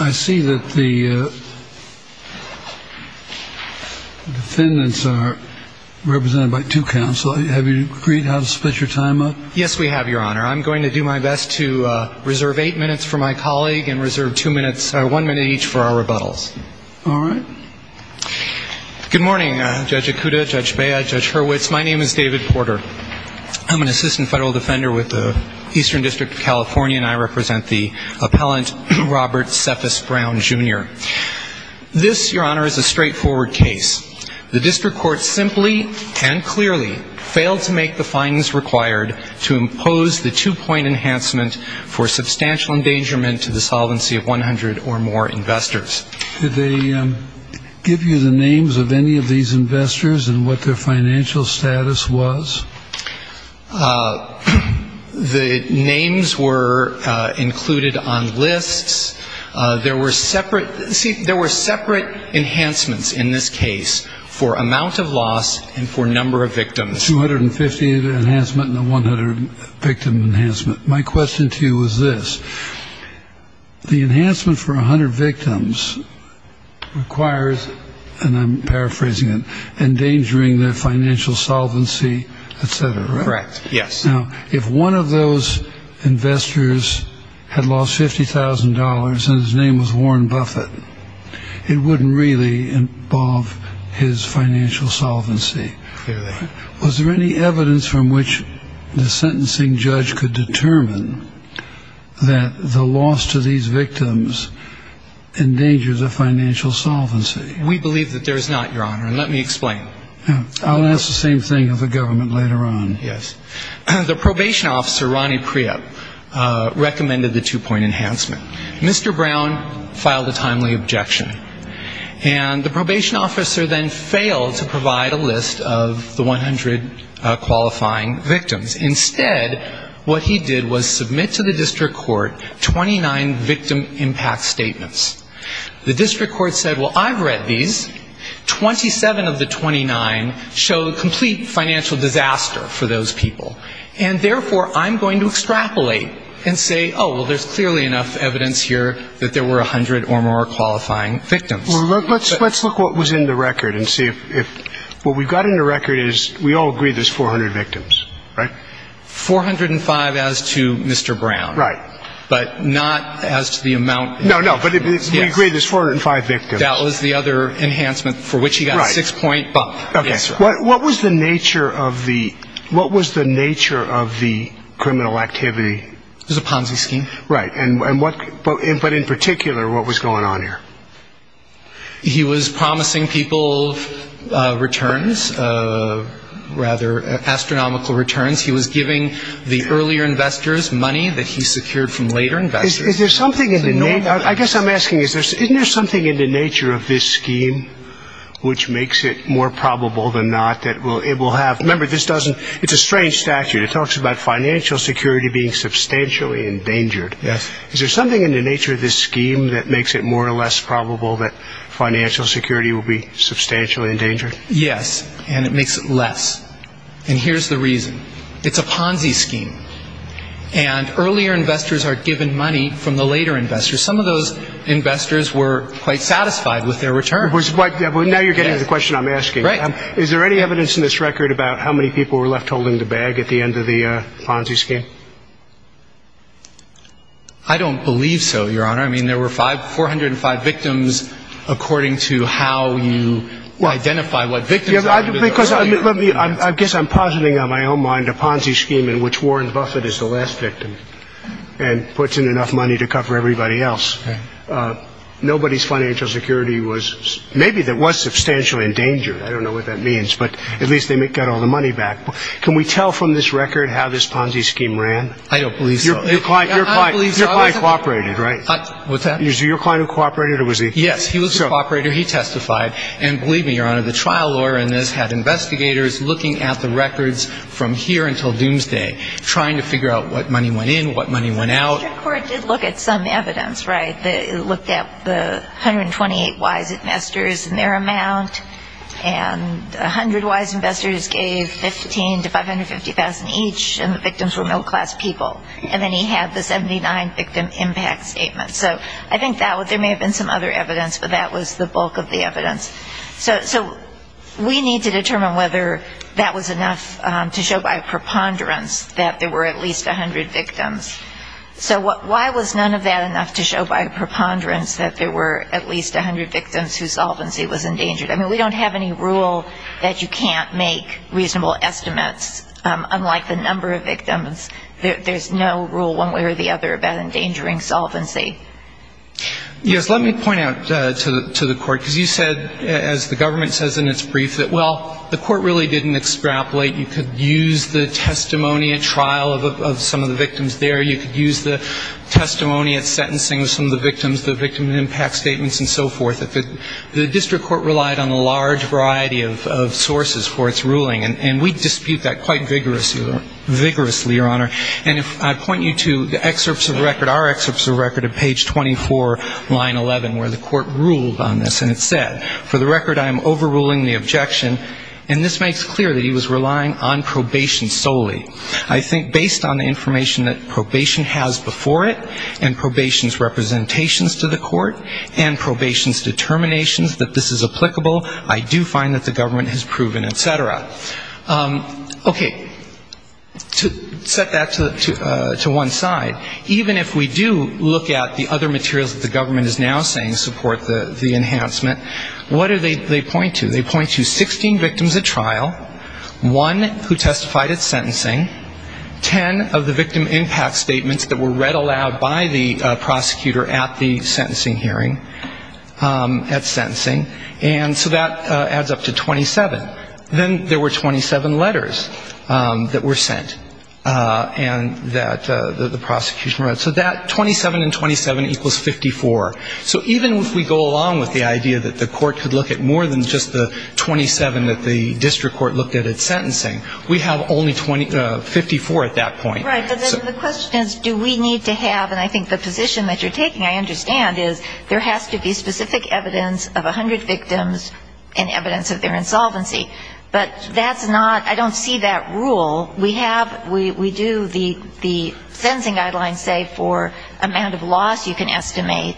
I see that the defendants are represented by two counsel. Have you agreed how to split your time up? Yes, we have, Your Honor. I'm going to do my best to reserve eight minutes for my colleague and reserve one minute each for our rebuttals. All right. Good morning, Judge Ikuda, Judge Bea, Judge Hurwitz. My name is David Porter. I'm an assistant federal defender with the Eastern District of California, and I represent the appellant Robert Cephas Brown, Jr. This, Your Honor, is a straightforward case. The district court simply and clearly failed to make the findings required to impose the two-point enhancement for substantial endangerment to the solvency of 100 or more investors. Did they give you the names of any of these investors and what their financial status was? The names were included on lists. There were separate enhancements in this case for amount of loss and for number of victims. The 250 enhancement and the 100-victim enhancement. My question to you is this. The enhancement for 100 victims requires, and I'm paraphrasing it, endangering their financial solvency, et cetera, right? Correct. Yes. Now, if one of those investors had lost $50,000 and his name was Warren Buffett, it wouldn't really involve his financial solvency. Clearly. Was there any evidence from which the sentencing judge could determine that the loss to these victims endangers their financial solvency? We believe that there is not, Your Honor. And let me explain. I'll ask the same thing of the government later on. Yes. The probation officer, Ronnie Priup, recommended the two-point enhancement. Mr. Brown filed a timely objection. And the probation officer then failed to provide a list of the 100 qualifying victims. Instead, what he did was submit to the district court 29 victim impact statements. The district court said, well, I've read these. Twenty-seven of the 29 show complete financial disaster for those people. And therefore, I'm going to extrapolate and say, oh, well, there's clearly enough evidence here that there were 100 or more qualifying victims. Well, let's look what was in the record and see if what we've got in the record is we all agree there's 400 victims, right? Four hundred and five as to Mr. Brown. Right. But not as to the amount. No, no. But we agree there's 405 victims. That was the other enhancement for which he got a six-point bump. Okay. What was the nature of the criminal activity? It was a Ponzi scheme. Right. But in particular, what was going on here? He was promising people rather astronomical returns. He was giving the earlier investors money that he secured from later investors. Is there something in the nature of this scheme which makes it more probable than not? Remember, it's a strange statute. It talks about financial security being substantially endangered. Yes. Is there something in the nature of this scheme that makes it more or less endangered? Yes. And it makes it less. And here's the reason. It's a Ponzi scheme. And earlier investors are given money from the later investors. Some of those investors were quite satisfied with their return. Now you're getting to the question I'm asking. Right. Is there any evidence in this record about how many people were left holding the bag at the end of the Ponzi scheme? I don't believe so, Your Honor. I mean, there were 405 victims according to how you identify what victims are. Because I guess I'm positing on my own mind a Ponzi scheme in which Warren Buffett is the last victim and puts in enough money to cover everybody else. Nobody's financial security was maybe that was substantially endangered. I don't know what that means. But at least they got all the money back. Can we tell from this record how this Ponzi scheme worked? I mean, the trial lawyer in this had investigators looking at the records from here until doomsday, trying to figure out what money went in, what money went out. The district court did look at some evidence, right? It looked at the 128 wise investors and their amount. And 100 wise investors gave 15 to 550,000 each. And the victims were middle class people. And then he had the 79 victim impact statement. So I think there may have been some other evidence. But that was the bulk of the evidence. So we need to determine whether that was enough to show by preponderance that there were at least 100 victims. So why was none of that enough to show by preponderance that there were at least 100 victims whose solvency was endangered? I mean, we don't have any rule that you can't make reasonable estimates, unlike the number of victims. There's no rule one way or the other about endangering solvency. Yes. Let me point out to the court, because you said, as the government says in its brief, that, well, the court really didn't extrapolate. You could use the testimony at trial of some of the victims there. You could use the testimony at sentencing of some of the victims, the victim impact statements and so forth. The district court relied on a large variety of sources for its ruling. And we dispute that quite vigorously, Your Honor. And I point you to excerpts of record, our excerpts of record at page 24, line 11, where the court ruled on this. And it said, for the record, I am overruling the objection. And this makes clear that he was relying on probation solely. I think based on the information that probation has before it and probation's representations to the court and probation's determinations that this is applicable, I do find that the government has proven, et cetera. Okay. To set that to one side, even if we do look at the other materials that the government is now saying support the enhancement, what do they point to? They point to 16 victims at trial, one who testified at sentencing, 10 of the victim impact statements that were read aloud by the prosecutor at the sentencing hearing, at sentencing. And so that adds up to 27. Then there were 27 letters that were sent and that the prosecution wrote. So that 27 and 27 equals 54. So even if we go along with the idea that the court could look at more than just the 27 that the district court looked at at sentencing, we have only 54 at that point. Right. But then the question is, do we need to have, and I think the position that you're taking, I understand, is that there has to be specific evidence of 100 victims and evidence of their insolvency. But that's not, I don't see that rule. We have, we do the sentencing guidelines say for amount of loss you can estimate.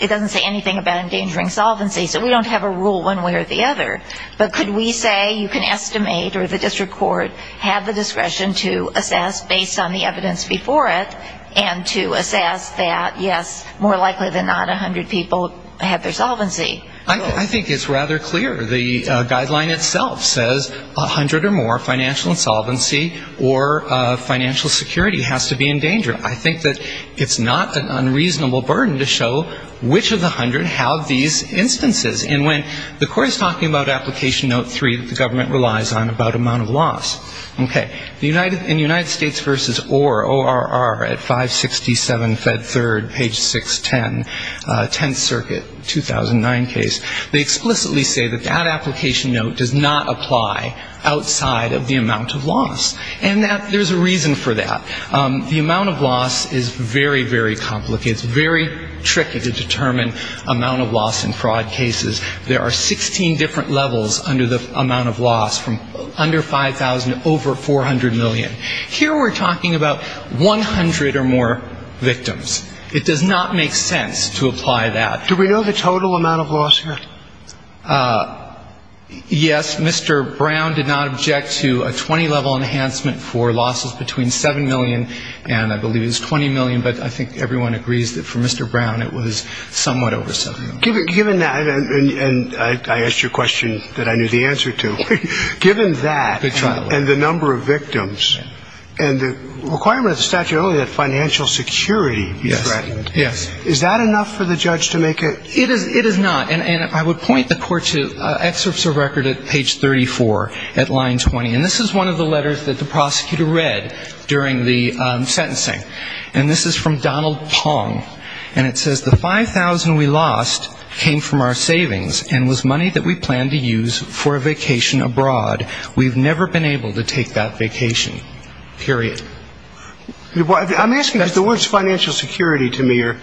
It doesn't say anything about endangering solvency. So we don't have a rule one way or the other. But could we say you can estimate or the district court have the discretion to assess based on the evidence before it and to assess that, yes, more likely than not, 100 people have their solvency? I think it's rather clear. The guideline itself says 100 or more financial insolvency or financial security has to be endangered. I think that it's not an unreasonable burden to show which of the 100 have these instances. And when the court is talking about Application Note 3 that the government relies on about amount of loss, okay, in United States versus ORR, O-R-R, at 567 Fed 3rd, page 610, 10th Circuit, 2009 case, they explicitly say that that Application Note does not apply outside of the amount of loss. And that there's a reason for that. The amount of loss is very, very complicated. It's very tricky to determine amount of loss in fraud cases. There are 16 different levels under the amount of loss. So the number of victims is more than the number of victims. The number of victims is about two to three times the number of victims, and the amount of loss is about 100 million. Here we're talking about 100 or more victims. It does not make sense to apply that. Do we know the total amount of loss here? Yes, Mr. Brown did not object to a 20-level enhancement for losses between 7 million and I believe it's 20 million. But I believe it was somewhat over 7 million. Given that, and I asked you a question that I knew the answer to, given that, and the number of victims, and the requirement of the statute only that financial security be threatened, is that enough for the judge to make a... It is not. And I would point the court to excerpts of record at page 34 at line 20. And this is one of the letters that the prosecutor read during the sentencing. And this is from Donald Pong. And it says, the 5,000 we lost came from our savings and was money that we planned to use for a vacation abroad. We've never been able to take that vacation. Period. I'm asking because the words financial security to me are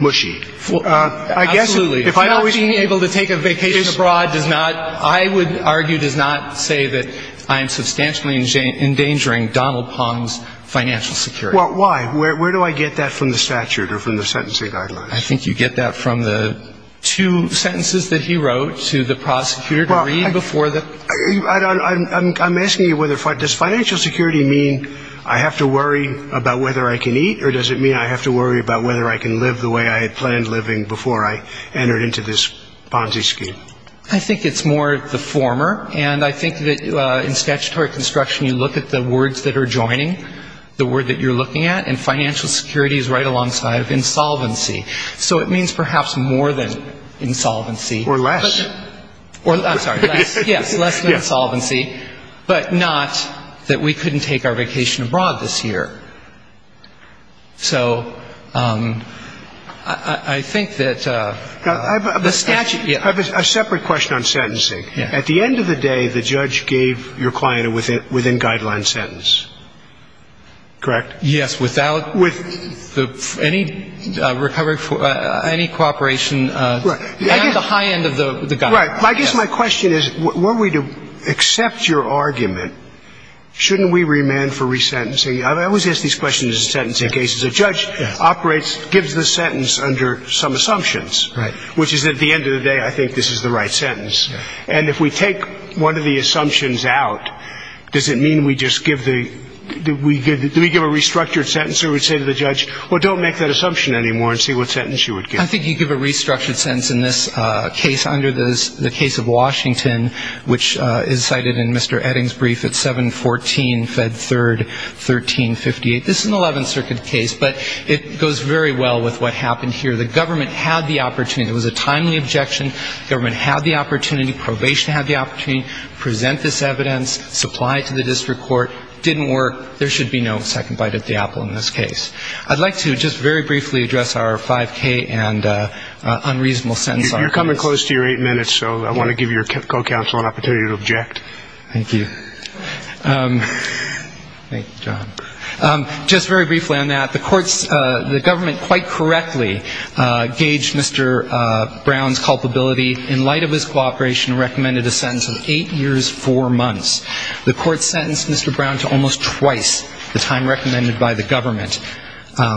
mushy. Absolutely. Not being able to take a vacation abroad does not, I would argue, does not say that I am substantially endangering Donald Pong's financial security. Well, why? Where do I get that from the statute or from the sentencing guidelines? I think you get that from the two sentences that he wrote to the prosecutor to read before the... I'm asking you whether, does financial security mean I have to worry about whether I can eat or does it mean I have to worry about whether I can live the way I had planned living before I entered into this Ponzi scheme? I think it's more the former. And I think that in statutory construction you look at the words that are joining, the word that you're looking at, and financial security is right alongside of insolvency. So it means perhaps more than insolvency. Or less. I'm sorry. Yes, less than insolvency, but not that we couldn't take our vacation abroad this year. So I think that the statute... A separate question on sentencing. At the end of the day, the judge gave your client a within guideline sentence. Correct? Yes, without any recovery, any cooperation at the high end of the guideline. Right. I guess my question is, were we to accept your argument, shouldn't we remand for resentencing? I always ask these questions in sentencing cases. A judge operates, gives the sentence under some assumptions. Right. Which is at the end of the day, I think this is the right sentence. And if we take one of the assumptions out, does it do we give a restructured sentence, or do we say to the judge, well, don't make that assumption anymore and see what sentence you would give? I think you give a restructured sentence in this case under the case of Washington, which is cited in Mr. Edding's brief at 714 Fed 3rd, 1358. This is an 11th Circuit case, but it goes very well with what happened here. The government had the opportunity. It was a timely objection. Government had the opportunity. Probation had the opportunity to present this evidence, supply it to the district court. Didn't work. There should be no second bite at the apple in this case. I'd like to just very briefly address our 5K and unreasonable sentence. You're coming close to your eight minutes, so I want to give your co-counsel an opportunity to object. Thank you. Just very briefly on that, the courts, the government quite correctly gauged Mr. Brown's culpability in light of this cooperation and recommended a sentence of eight years, four months. The court sentenced Mr. Brown to almost twice the time recommended by the government,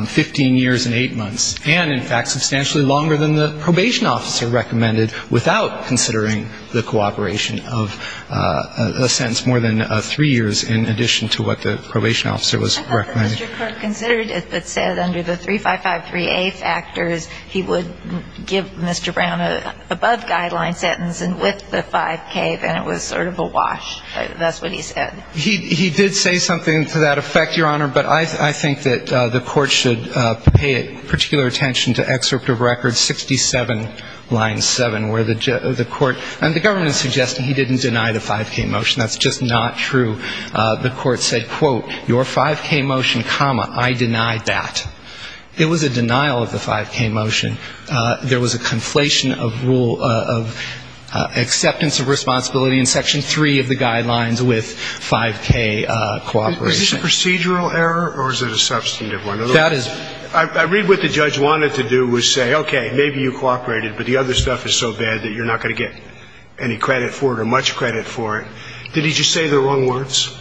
15 years and eight months, and, in fact, substantially longer than the probation officer recommended without considering the cooperation of a sentence more than three years in addition to what the probation officer was recommending. I thought that Mr. Kirk considered it but said under the 3553A factors he would give Mr. Brown a deadline sentence, and with the 5K, then it was sort of a wash. That's what he said. He did say something to that effect, Your Honor, but I think that the court should pay particular attention to excerpt of record 67, line 7, where the court, and the government is suggesting he didn't deny the 5K motion. That's just not true. The court said, quote, your 5K motion, comma, I denied that. It was a denial of the 5K motion. There was a conflation of acceptance of responsibility in section 3 of the guidelines with 5K cooperation. Is this a procedural error or is it a substantive one? That is the question. I read what the judge wanted to do was say, okay, maybe you cooperated, but the other stuff is so bad that you're not going to get any credit for it or much credit for it. Did he just say the wrong words?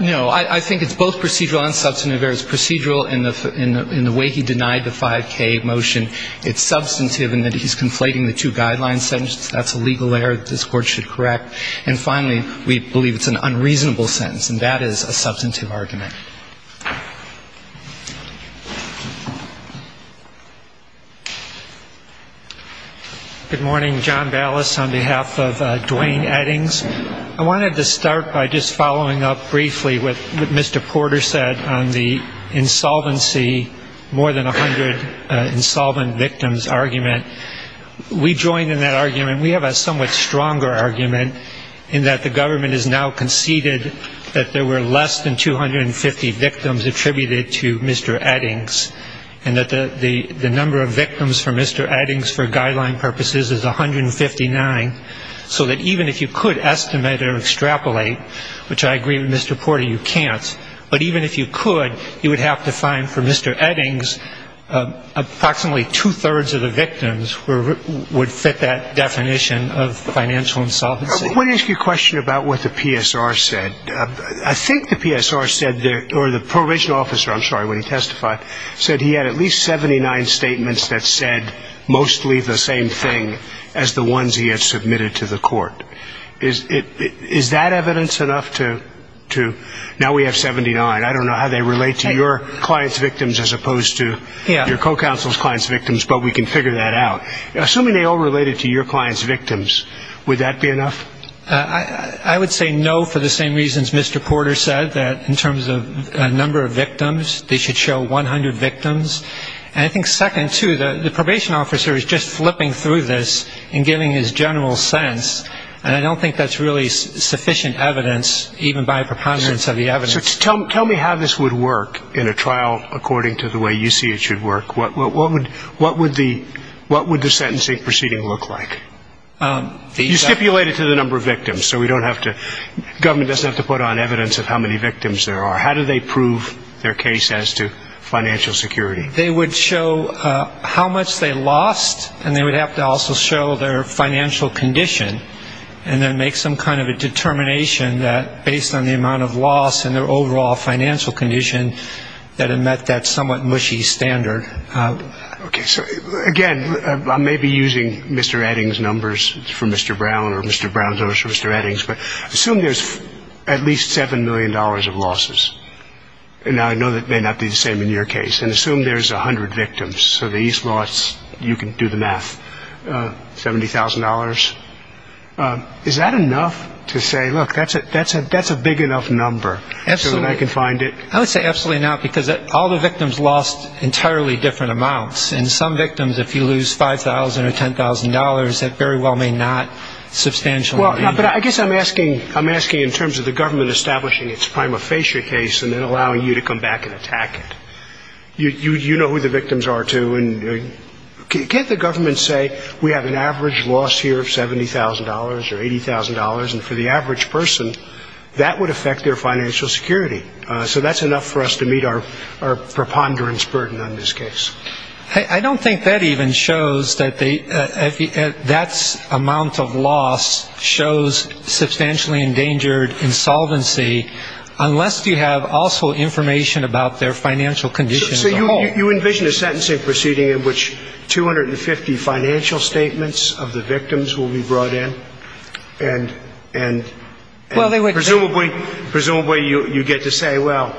No. I think it's both procedural and substantive. It's procedural in the way he denied the 5K motion. It's substantive in that he's conflating the two guidelines sentences. That's a legal error that this court should correct. And finally, we believe it's an unreasonable sentence, and that is a substantive argument. Good morning. John Ballas on behalf of Duane Eddings. I wanted to start by just following up briefly with what Mr. Porter said on the insolvency, more than 100 insolvent victims argument. We joined in that argument. We have a somewhat stronger argument in that the government has now conceded that there were less than 250 victims attributed to Mr. Eddings, and that the number of victims for Mr. Eddings for guideline purposes is 159, so that even if you could estimate or extrapolate, which I agree with Mr. Porter, you can't, but even if you could, you would have to find for Mr. Eddings approximately 200 victims. And I think two-thirds of the victims would fit that definition of financial insolvency. I want to ask you a question about what the PSR said. I think the PSR said, or the Prohibition Officer, I'm sorry, when he testified, said he had at least 79 statements that said mostly the same thing as the ones he had submitted to the court. Is that evidence enough to now we have 79? I don't know how they relate to your clients' victims as opposed to your pro-counsel's clients' victims, but we can figure that out. Assuming they all related to your clients' victims, would that be enough? I would say no for the same reasons Mr. Porter said, that in terms of number of victims, they should show 100 victims. And I think second, too, the Probation Officer is just flipping through this and giving his general sense, and I don't think that's really sufficient evidence, even by preponderance of the evidence. So tell me how this would work in a trial according to the way you see it should work. What would the sentencing proceeding look like? You stipulated to the number of victims, so we don't have to, the government doesn't have to put on evidence of how many victims there are. How do they prove their case as to financial security? They would show how much they lost, and they would have to also show their financial condition, and then make some kind of loss in their overall financial condition that had met that somewhat mushy standard. Okay. So again, I may be using Mr. Eddings' numbers for Mr. Brown or Mr. Brown's numbers for Mr. Eddings, but assume there's at least $7 million of losses. Now, I know that may not be the same in your case. And assume there's 100 victims, so the least loss, you can do the math, $70,000. Is that enough to say, look, that's a big enough number for the number so that I can find it? I would say absolutely not, because all the victims lost entirely different amounts. And some victims, if you lose $5,000 or $10,000, that very well may not substantially. But I guess I'm asking in terms of the government establishing its prima facie case and then allowing you to come back and attack it. You know who the victims are, too. Can't the government say we have an average loss here of $70,000 or $80,000, and for the victims it's $70,000, and for the victims it's $80,000, and for the victims it's $70,000. So that's enough for us to meet our preponderance burden on this case. I don't think that even shows that that amount of loss shows substantially endangered insolvency, unless you have also information about their financial condition as a whole. So you envision a sentencing proceeding in which 250 financial statements of the victims will be brought in and presumably sentenced. And that's the way you get to say, well,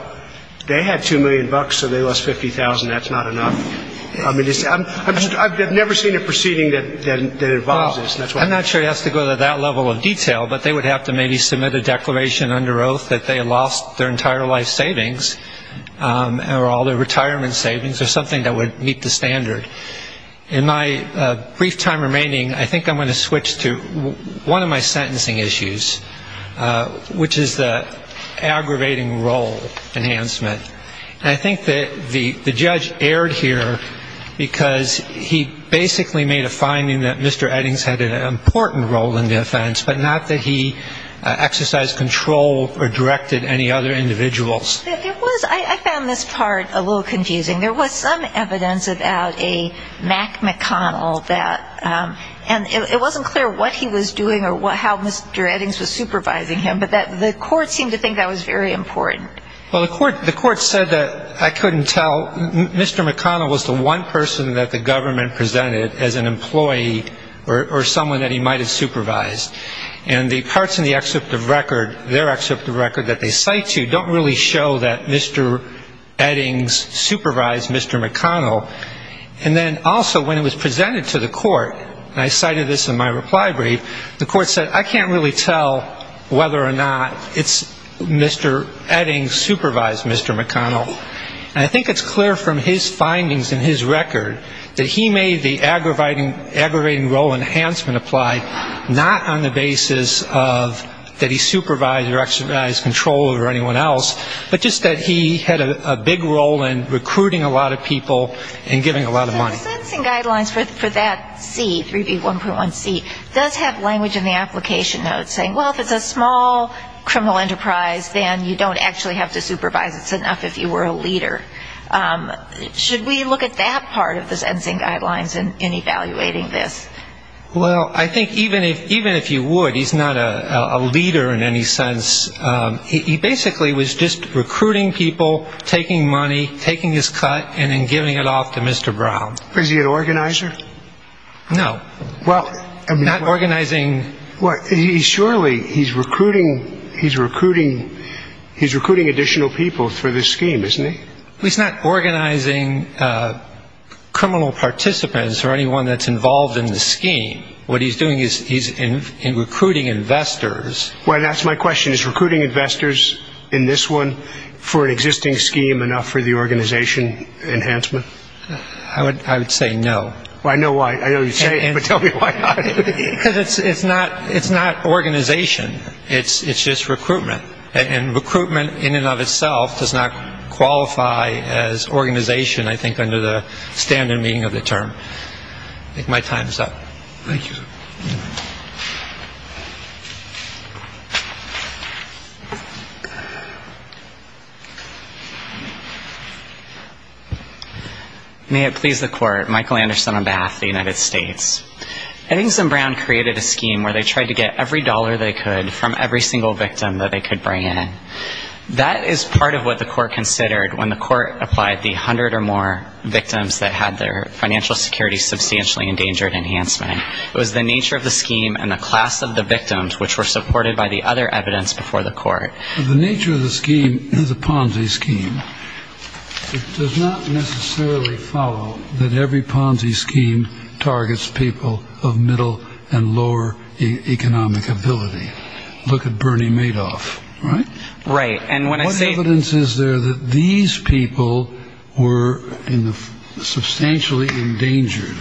they had $2 million, so they lost $50,000. That's not enough. I've never seen a proceeding that involves this. I'm not sure it has to go to that level of detail, but they would have to maybe submit a declaration under oath that they lost their entire life savings or all their retirement savings or something that would meet the standard. And I think that the judge erred here, because he basically made a finding that Mr. Eddings had an important role in the offense, but not that he exercised control or directed any other individuals. I found this part a little confusing. There was some evidence about a Mac McConnell that, and it wasn't clear what he was doing or how Mr. Eddings was supervising him, but the court seemed to think that was very important. Well, the court said that I couldn't tell. Mr. McConnell was the one person that the government presented as an employee or someone that he might have supervised. And the parts in the excerpt of record, their excerpt of record that they cite to don't really show that Mr. Eddings supervised Mr. McConnell. And then also when it was presented to the court, and I cited this in my reply brief, the court said, I can't really tell whether or not it's Mr. Eddings supervised Mr. McConnell. And I think it's clear from his findings in his record that he made the aggravating role enhancement apply not on the basis of that he supervised or exercised control over anyone else, but just that he had a big role in recruiting a lot of people and giving a lot of money. So the sentencing guidelines for that C, 3B1.1C, does have language in the application notes saying, well, if it's a small criminal enterprise, then you don't actually have to supervise it enough if you were a leader. Should we look at that part of the sentencing guidelines in evaluating this? Well, I think even if you would, he's not a leader in any sense. He basically was just recruiting people, taking money, taking his cut, and then giving it off to Mr. Brown. Is he an organizer? No. Not organizing. Surely he's recruiting additional people for this scheme, isn't he? He's not organizing criminal participants or anyone that's involved in the scheme. What he's doing is he's recruiting investors. Well, that's my question. Is recruiting investors in this one for an existing scheme enough for the organization enhancement? I would say no. Well, I know why. I know you say it, but tell me why not. Because it's not organization. It's just recruitment. And recruitment in and of itself does not qualify as organization, I think, under the standard meaning of the term. I think my time is up. Thank you. May it please the court. Michael Anderson on behalf of the United States. Eddings and Brown created a scheme where they tried to get every dollar they could from every single victim that they could bring in. That is part of what the court considered when the court applied the 100 or more victims that had their financial security substantially It was the nature of the scheme and the class of the victims which were supported by the other evidence before the court. The nature of the scheme is a Ponzi scheme. It does not necessarily follow that every Ponzi scheme targets people of middle and lower economic ability. Look at Bernie Madoff, right? What evidence is there that these people were substantially endangered?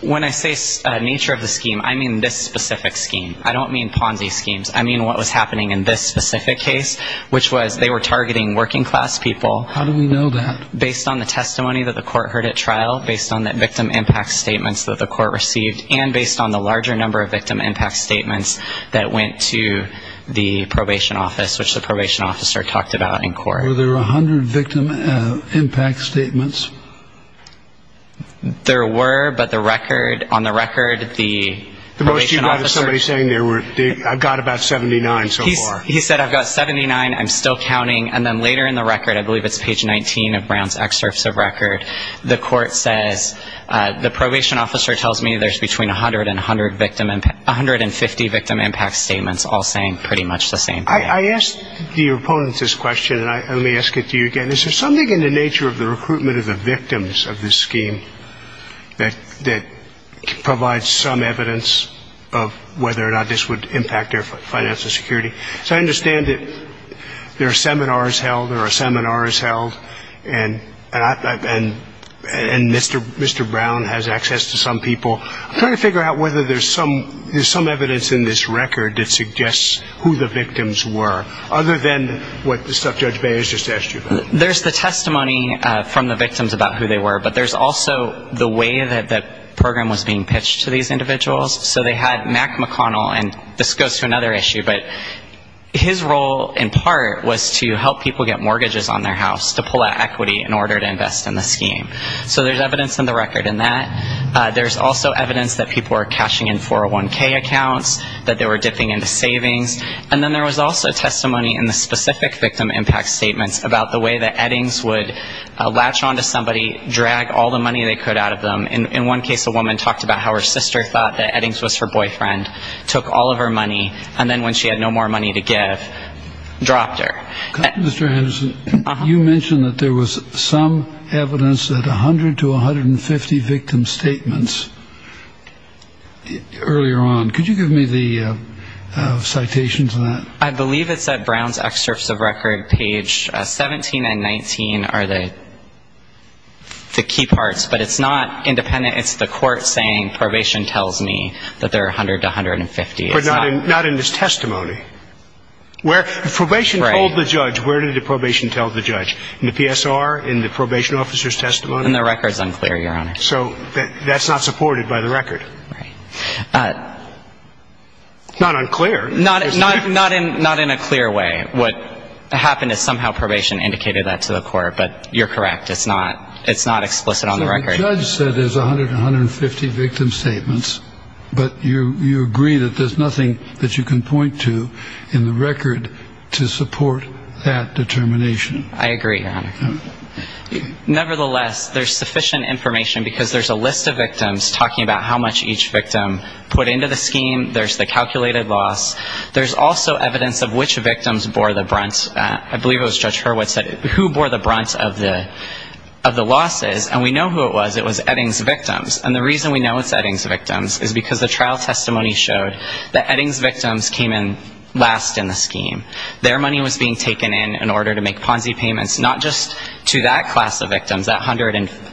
When I say nature of the scheme, I mean this specific scheme. I don't mean Ponzi schemes. I mean what was happening in this specific case, which was they were targeting working class people. How do we know that? Based on the testimony that the court heard at trial, based on the victim impact statements that the court received, and based on the larger number of victim impact statements that went to the probation office, which the probation officer talked about in court. Were there 100 victim impact statements? There were, but on the record, the probation officer... I've got about 79 so far. He said, I've got 79, I'm still counting, and then later in the record, I believe it's page 19 of Brown's excerpts of record, the court says, the probation officer tells me there's between 100 and 150 victim impact statements all saying pretty much the same thing. I asked the opponents this question, and let me ask it to you again. Is there something in the nature of the recruitment of the victims of this scheme that provides some evidence of whether or not this would impact their financial security? So I understand that there are seminars held, and Mr. Brown has access to some people. I'm trying to figure out whether there's some evidence in this record that suggests who the victims were, other than what Judge Baez just asked you about. There's the testimony from the victims about who they were, but there's also the way that that program was being pitched to these individuals. So they had Mack McConnell, and this goes to another issue, but his role in part was to help people get mortgages on their house, to pull out equity in order to invest in the scheme. So there's evidence in the record in that. There's also evidence that people were cashing in 401K accounts, that they were dipping into savings, and then there was also testimony in the specific victim impact statements about the way that Eddings would latch on to somebody, drag all the money they could out of them. In one case, a woman talked about how her sister thought that Eddings was her boyfriend, took all of her money, and then when she had no more money to give, dropped her. Mr. Henderson, you mentioned that there was some evidence that 100 to 150 victim statements earlier on. Could you give me the citation to that? I believe it's at Brown's excerpts of record, page 17 and 19 are the key parts, but it's not independent. It's the court saying probation tells me that there are 100 to 150. But not in his testimony. If probation told the judge, where did the probation tell the judge, in the PSR, in the probation officer's testimony? In the records unclear, Your Honor. So that's not supported by the record. Not unclear. Not in a clear way. What happened is somehow probation indicated that to the court, but you're correct. It's not explicit on the record. So the judge said there's 100 to 150 victim statements, but you agree that there's nothing that you can point to in the record to support that determination. I agree, Your Honor. Nevertheless, there's sufficient information, because there's a list of victims talking about how much each victim put into the scheme. There's the calculated loss. There's also evidence of which victims bore the brunt. I believe it was Judge Hurwitz who bore the brunt of the losses. And we know who it was. It was Eddings victims. And the reason we know it's Eddings victims is because the trial testimony showed that Eddings victims came in last in the scheme. Their money was being taken in in order to make Ponzi payments, not just to that class of victims, that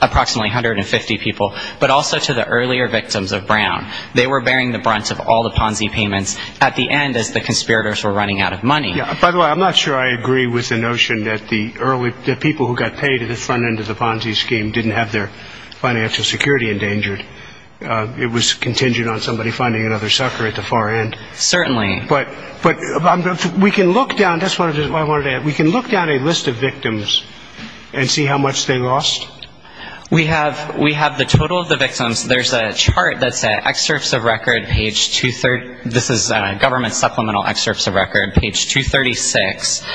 approximately 150 people, but also to the earlier victims of Brown. They were bearing the brunt of all the Ponzi payments at the end as the conspirators were running out of money. By the way, I'm not sure I agree with the notion that the people who got paid at the front end of the Ponzi scheme didn't have their financial security endangered. It was contingent on somebody finding another sucker at the far end. Certainly. But we can look down a list of victims and see how much they lost. We have the total of the victims. There's a chart that's at excerpts of record, page 230. This is government supplemental excerpts of record, page 236.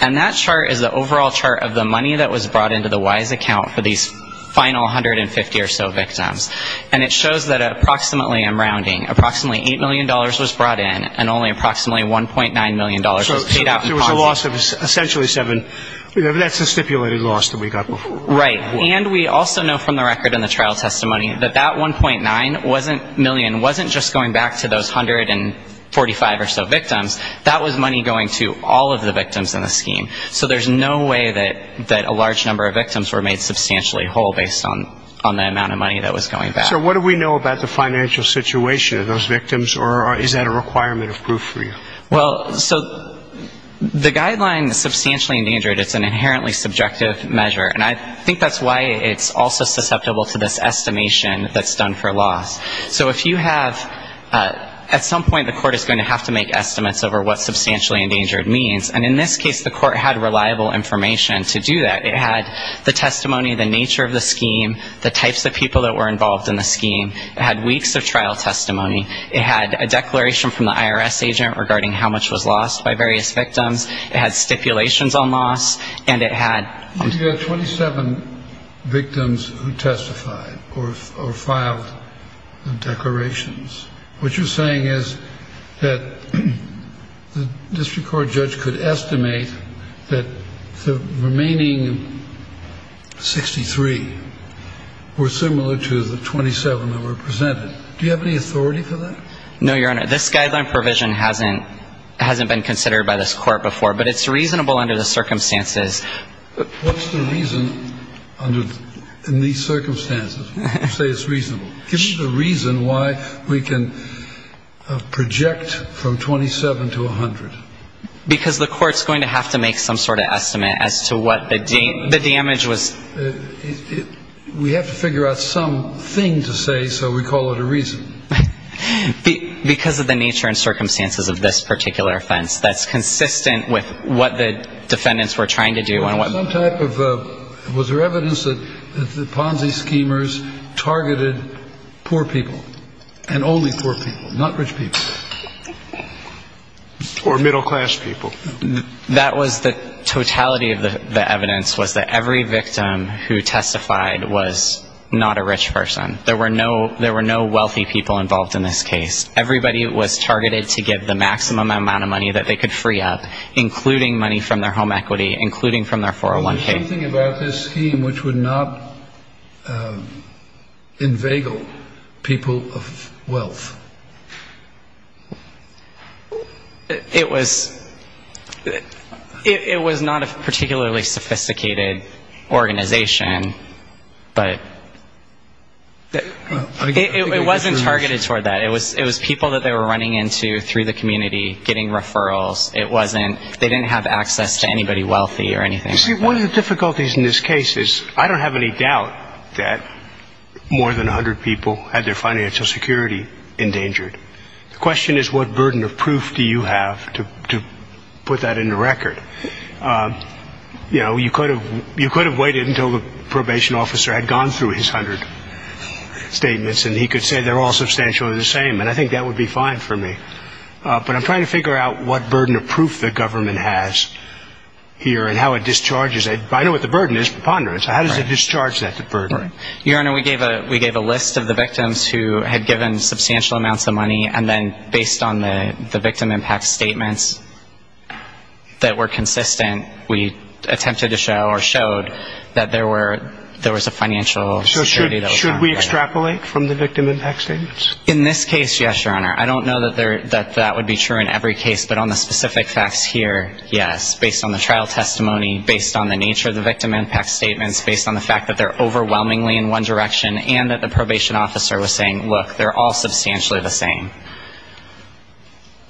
And that chart is the overall chart of the money that was brought into the Wise account for these final 150 or so victims. And it shows that approximately, I'm rounding, approximately $8 million was brought in and only approximately $1.9 million was paid out in Ponzi. There was a loss of essentially seven. That's a stipulated loss that we got before. Right. And we also know from the record in the trial testimony that that $1.9 million wasn't just going back to those 145 or so victims. That was money going to all of the victims in the scheme. So there's no way that a large number of victims were made substantially whole based on the amount of money that was going back. So what do we know about the financial situation of those victims, or is that a requirement of proof for you? Well, so the guideline substantially endangered, it's an inherently subjective measure. And I think that's why it's also susceptible to this estimation that's done for loss. So if you have at some point the court is going to have to make estimates over what substantially endangered means. And in this case, the court had reliable information to do that. It had the testimony, the nature of the scheme, the types of people that were involved in the scheme. It had weeks of trial testimony. It had a declaration from the IRS agent regarding how much was lost by various victims. It had stipulations on loss. And it had 27 victims who testified or filed declarations. What you're saying is that the district court judge could estimate that the remaining 63 were similar to the 27 that were presented. Do you have any authority for that? No, Your Honor. This guideline provision hasn't been considered by this court before, but it's reasonable under the circumstances. What's the reason in these circumstances you say it's reasonable? Give us a reason why we can project from 27 to 100. Because the court's going to have to make some sort of estimate as to what the damage was. We have to figure out some thing to say, so we call it a reason. Because of the nature and circumstances of this particular offense, that's consistent with what the defendants were trying to do. Was there evidence that the Ponzi schemers targeted poor people and only poor people, not rich people? Or middle-class people. No, there was no Ponzi scheme who testified was not a rich person. There were no wealthy people involved in this case. Everybody was targeted to give the maximum amount of money that they could free up, including money from their home equity, including from their 401k. Was there something about this scheme which would not inveigle people of wealth? It was not a particularly sophisticated organization, but it wasn't targeted toward that. It was people that they were running into through the community, getting referrals. They didn't have access to anybody wealthy or anything like that. One of the difficulties in this case is I don't have any doubt that more than 100 people had their financial security endangered. The question is what burden of proof do you have to put that into record? You could have waited until the probation officer had gone through his 100 statements and he could say they're all substantially the same, and I think that would be fine for me. But I'm trying to figure out what burden of proof the government has here and how it discharges it. I know what the burden is, preponderance. How does it discharge that burden? Your Honor, we gave a list of the victims who had given substantial amounts of money, and then based on the victim impact statements that were consistent, we attempted to show or showed that there was a financial security. Should we extrapolate from the victim impact statements? In this case, yes, Your Honor. I don't know that that would be true in every case, but on the specific facts here, yes. Based on the trial testimony, based on the nature of the victim impact statements, based on the fact that they're overwhelmingly in one direction and that the probation officer was saying, look, they're all substantially the same.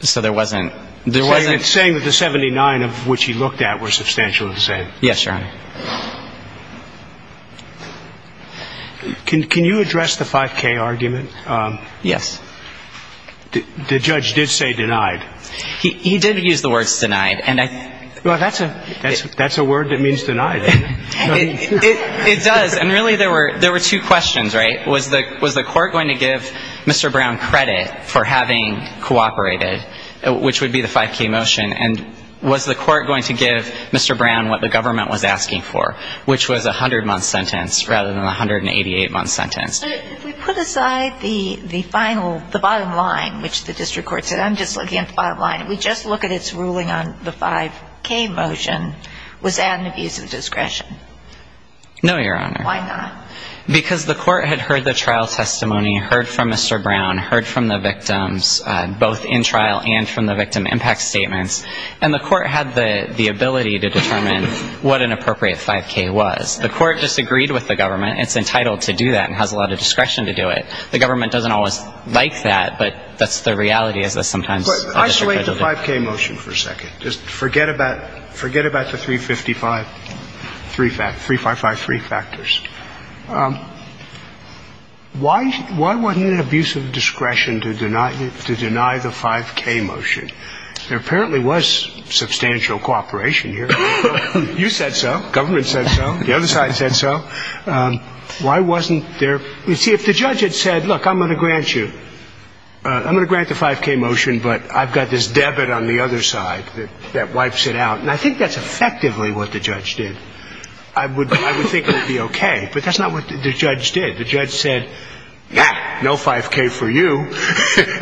So there wasn't... So you're saying that the 79 of which he looked at were substantially the same. Yes, Your Honor. Can you address the 5K argument? Yes. The judge did say denied. He did use the words denied. Well, that's a word that means denied. It does. And really there were two questions, right? Was the court going to give Mr. Brown credit for having cooperated, which would be the 5K motion, and was the court going to give Mr. Brown what the government was asking for, which was a 100-month sentence rather than a 188-month sentence? If we put aside the final, the bottom line, which the district court said, I'm just looking at the bottom line. If we just look at its ruling on the 5K motion, was that an abuse of discretion? No, Your Honor. Why not? Because the court had heard the trial testimony, heard from Mr. Brown, heard from the victims, both in trial and from the victim impact statements, and the court had the ability to determine what an appropriate 5K was. The court disagreed with the government. It's entitled to do that and has a lot of discretion to do it. The government doesn't always like that, but that's the reality, is that sometimes a district court will do it. But isolate the 5K motion for a second. Just forget about the 355-3 factors. Why wasn't it an abuse of discretion to deny the 5K motion? There apparently was substantial cooperation here. You said so. Government said so. The other side said so. Why wasn't there? See, if the judge had said, look, I'm going to grant you, I'm going to grant the 5K motion, but I've got this debit on the other side that wipes it out. And I think that's effectively what the judge did. I would think it would be okay. But that's not what the judge did. The judge said, yeah, no 5K for you,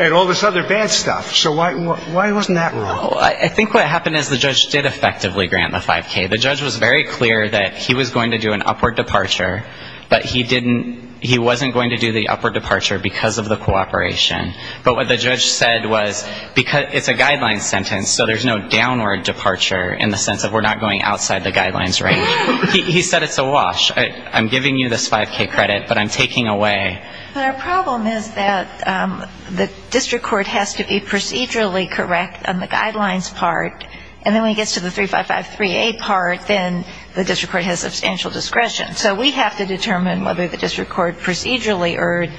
and all this other bad stuff. So why wasn't that wrong? I think what happened is the judge did effectively grant the 5K. The judge was very clear that he was going to do an upward departure, but he wasn't going to do the upward departure because of the cooperation. But what the judge said was, it's a guideline sentence, so there's no downward departure in the sense of we're not going outside the guidelines range. He said it's a wash. I'm giving you this 5K credit, but I'm taking away. But our problem is that the district court has to be procedurally correct on the guidelines part, and then when it gets to the 3553A part, then the district court has substantial discretion. So we have to determine whether the district court procedurally erred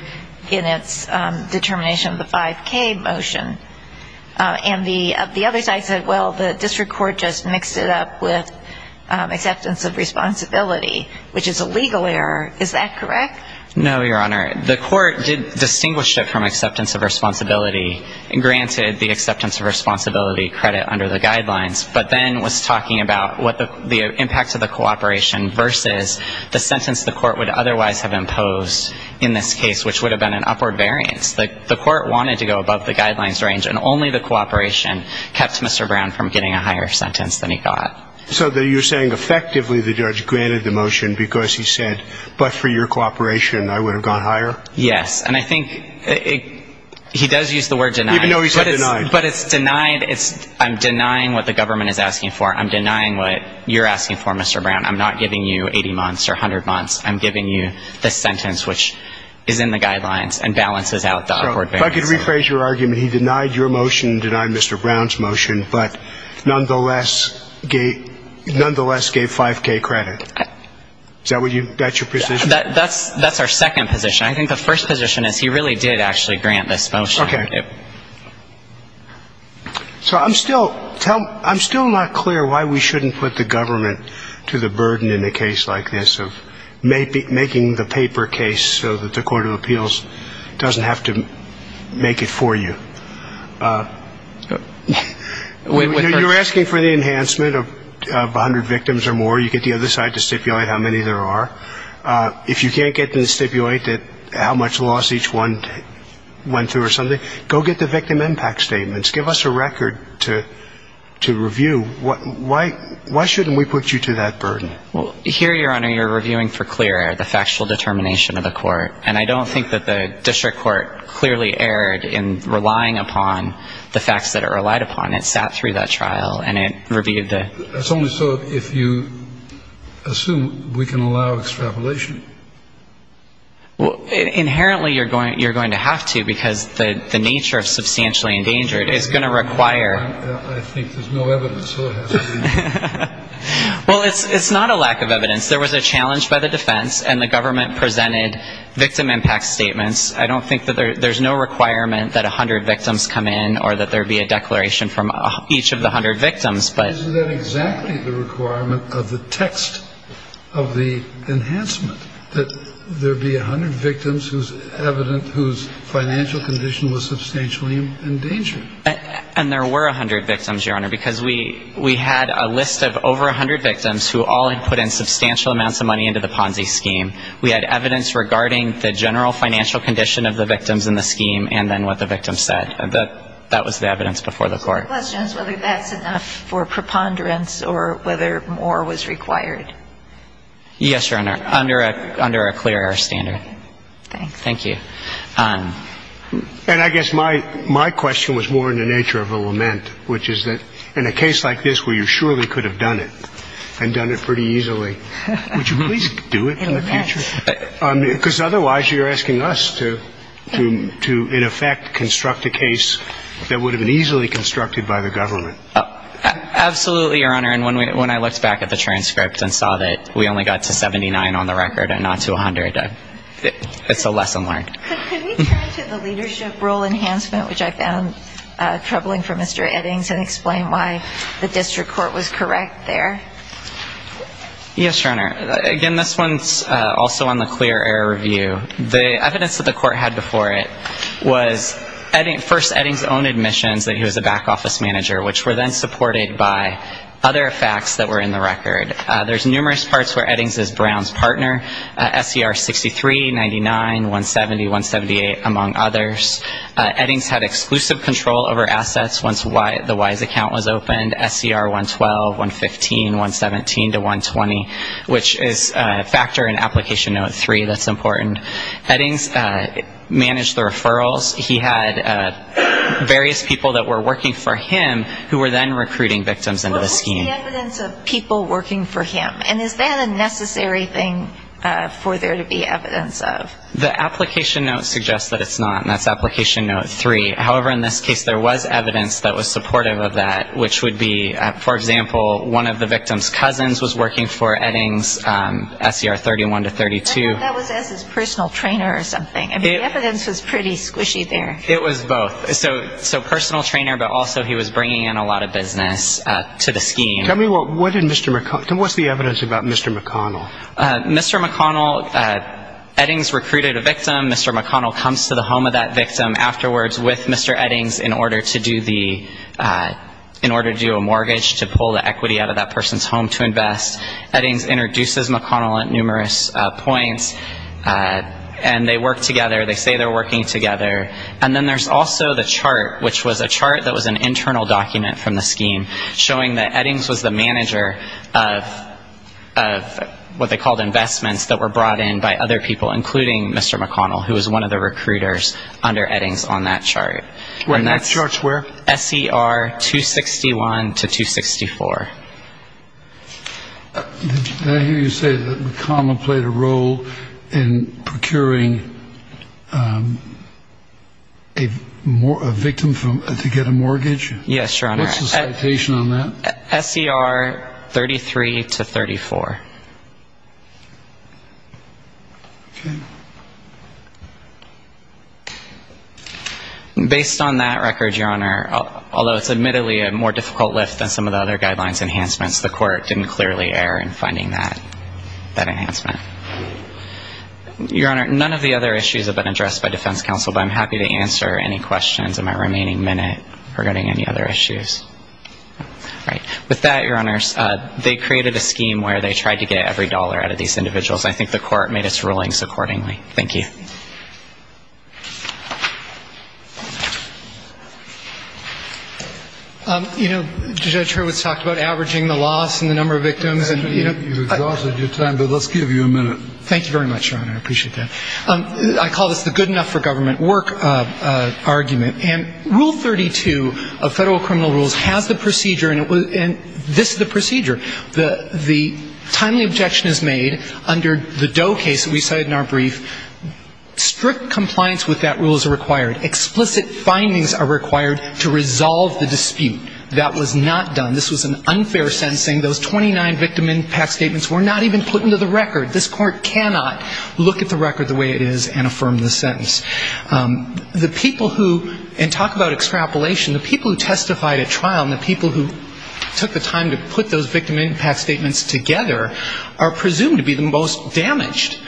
in its determination of the 5K motion. And the other side said, well, the district court just mixed it up with acceptance of responsibility, which is a legal error. Is that correct? No, Your Honor. The court did distinguish it from acceptance of responsibility and granted the acceptance of responsibility credit under the guidelines, but then was talking about what the impact of the cooperation versus the sentence the court would otherwise have imposed in this case, which would have been an upward variance. The court wanted to go above the guidelines range, and only the cooperation kept Mr. Brown from getting a higher sentence than he got. So you're saying effectively the judge granted the motion because he said, but for your cooperation, I would have gone higher? Yes. And I think he does use the word denied. Even though he said denied. But it's denied. I'm denying what the government is asking for. I'm denying what you're asking for, Mr. Brown. I'm not giving you 80 months or 100 months. I'm giving you the sentence which is in the guidelines and balances out the upward variance. If I could rephrase your argument, he denied your motion, denied Mr. Brown's motion, but nonetheless gave 5K credit. Is that your position? That's our second position. I think the first position is he really did actually grant this motion. Okay. So I'm still not clear why we shouldn't put the government to the burden in a case like this of making the paper case so that the Court of Appeals can make it for you. You're asking for the enhancement of 100 victims or more. You get the other side to stipulate how many there are. If you can't get them to stipulate how much loss each one went through or something, go get the victim impact statements. Give us a record to review. Why shouldn't we put you to that burden? Well, here, Your Honor, you're reviewing for clear error, the factual determination of the court. And I don't think that the district court clearly erred in relying upon the facts that it relied upon. It sat through that trial and it reviewed the... That's only so if you assume we can allow extrapolation. Inherently, you're going to have to because the nature of substantially endangered is going to require... I think there's no evidence, so it has to be... Well, it's not a lack of evidence. There was a challenge by the defense, and the government presented victim impact statements. I don't think that there's no requirement that 100 victims come in or that there be a declaration from each of the 100 victims, but... Isn't that exactly the requirement of the text of the enhancement? That there be 100 victims whose financial condition was substantially endangered? And there were 100 victims, Your Honor, because we had a list of over 100 victims who all had put in substantial amounts of money into the Ponzi scheme. We had evidence regarding the general financial condition of the victims in the scheme and then what the victims said. And I guess my question is whether that's enough for preponderance or whether more was required. Yes, Your Honor, under a clear air standard. Thank you. And I guess my question was more in the nature of a lament, which is that in a case like this where you surely could have done it and done it pretty easily, would you please do it in the future? Because otherwise you're asking us to, in effect, construct a case that would have been easily constructed by the government. Absolutely, Your Honor, and when I looked back at the transcript and saw that we only got to 79 on the record and not to 100, it's a lesson learned. Could we turn to the leadership role enhancement, which I found troubling for Mr. Eddings, and explain why the district court was correct there? Yes, Your Honor, again, this one's also on the clear air review. The evidence that the court had before it was first Eddings' own admissions that he was a back office manager, which were then supported by other facts that were in the record. There's numerous parts where Eddings is Brown's partner, SCR 63, 99, 170, 178, among others. Eddings had exclusive control over assets once the Wise account was opened, SCR 112, 115, 116, 117. 117 to 120, which is a factor in Application Note 3 that's important. Eddings managed the referrals. He had various people that were working for him who were then recruiting victims into the scheme. What was the evidence of people working for him, and is that a necessary thing for there to be evidence of? The Application Note suggests that it's not, and that's Application Note 3. However, in this case, there was evidence that was supportive of that, which would be, for example, one of the victim's cousins was working for Eddings, SCR 31 to 32. That was as his personal trainer or something. I mean, the evidence was pretty squishy there. It was both. So personal trainer, but also he was bringing in a lot of business to the scheme. Tell me what's the evidence about Mr. McConnell. Mr. McConnell, Eddings recruited a victim. Mr. McConnell comes to the home of that victim afterwards with Mr. Eddings in order to do a mortgage to pull the equity out of that person's home to invest. Eddings introduces McConnell at numerous points, and they work together. They say they're working together. And then there's also the chart, which was a chart that was an internal document from the scheme, showing that Eddings was the manager of what they called investments that were brought in by other people, including Mr. McConnell, who was one of the recruiters under Eddings on that chart. And that's SCR 261 to 264. Did I hear you say that McConnell played a role in procuring equity? A victim to get a mortgage? Yes, Your Honor. What's the citation on that? SCR 33 to 34. Based on that record, Your Honor, although it's admittedly a more difficult lift than some of the other guidelines enhancements, the court didn't clearly err in finding that enhancement. Your Honor, none of the other issues have been addressed by defense counsel, but I'm happy to answer any questions in my remaining minute regarding any other issues. With that, Your Honors, they created a scheme where they tried to get every dollar out of these individuals. I think the court made its rulings accordingly. Thank you. You know, Judge Hurwitz talked about averaging the loss and the number of victims. You've exhausted your time, but let's give you a minute. Thank you very much, Your Honor, I appreciate that. I call this the good enough for government work argument. And Rule 32 of federal criminal rules has the procedure, and this is the procedure. The timely objection is made under the Doe case that we cited in our brief. Strict compliance with that rule is required. Explicit findings are required to resolve the dispute. That was not done. This was an unfair sentencing. Those 29 victim impact statements were not even put into the record. This court cannot look at the record the way it is and affirm the sentence. The people who, and talk about extrapolation, the people who testified at trial and the people who took the time to put those victim impact statements together are presumed to be the most damaged.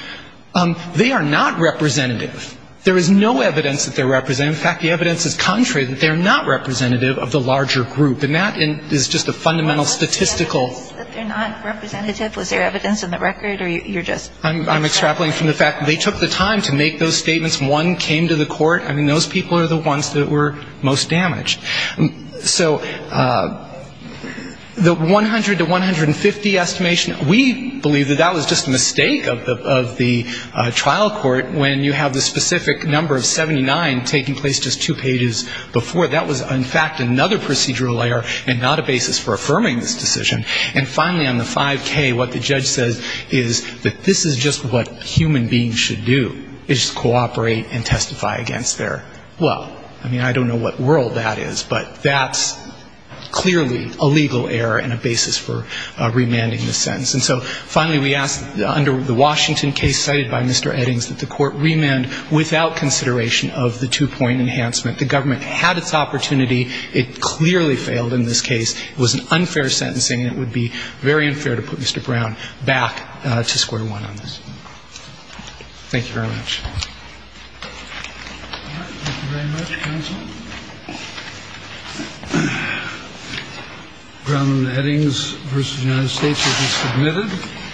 They are not representative. There is no evidence that they're representative. In fact, the evidence is contrary, that they're not representative of the larger group. And that is just a fundamental statistical ---- I'm extrapolating from the fact that they took the time to make those statements. One came to the court. I mean, those people are the ones that were most damaged. So the 100 to 150 estimation, we believe that that was just a mistake of the trial court when you have the specific number of 79 taking place just two pages before. That was, in fact, another procedural error and not a basis for affirming this decision. And finally, on the 5K, what the judge says is that this is just what human beings should do, is cooperate and testify against their Well, I mean, I don't know what world that is, but that's clearly a legal error and a basis for remanding the sentence. And so, finally, we ask under the Washington case cited by Mr. Eddings that the court remand without consideration of the two-point enhancement. The government had its opportunity. It clearly failed in this case. It was an unfair sentencing. It would be very unfair to put Mr. Brown back to square one on this. Thank you very much.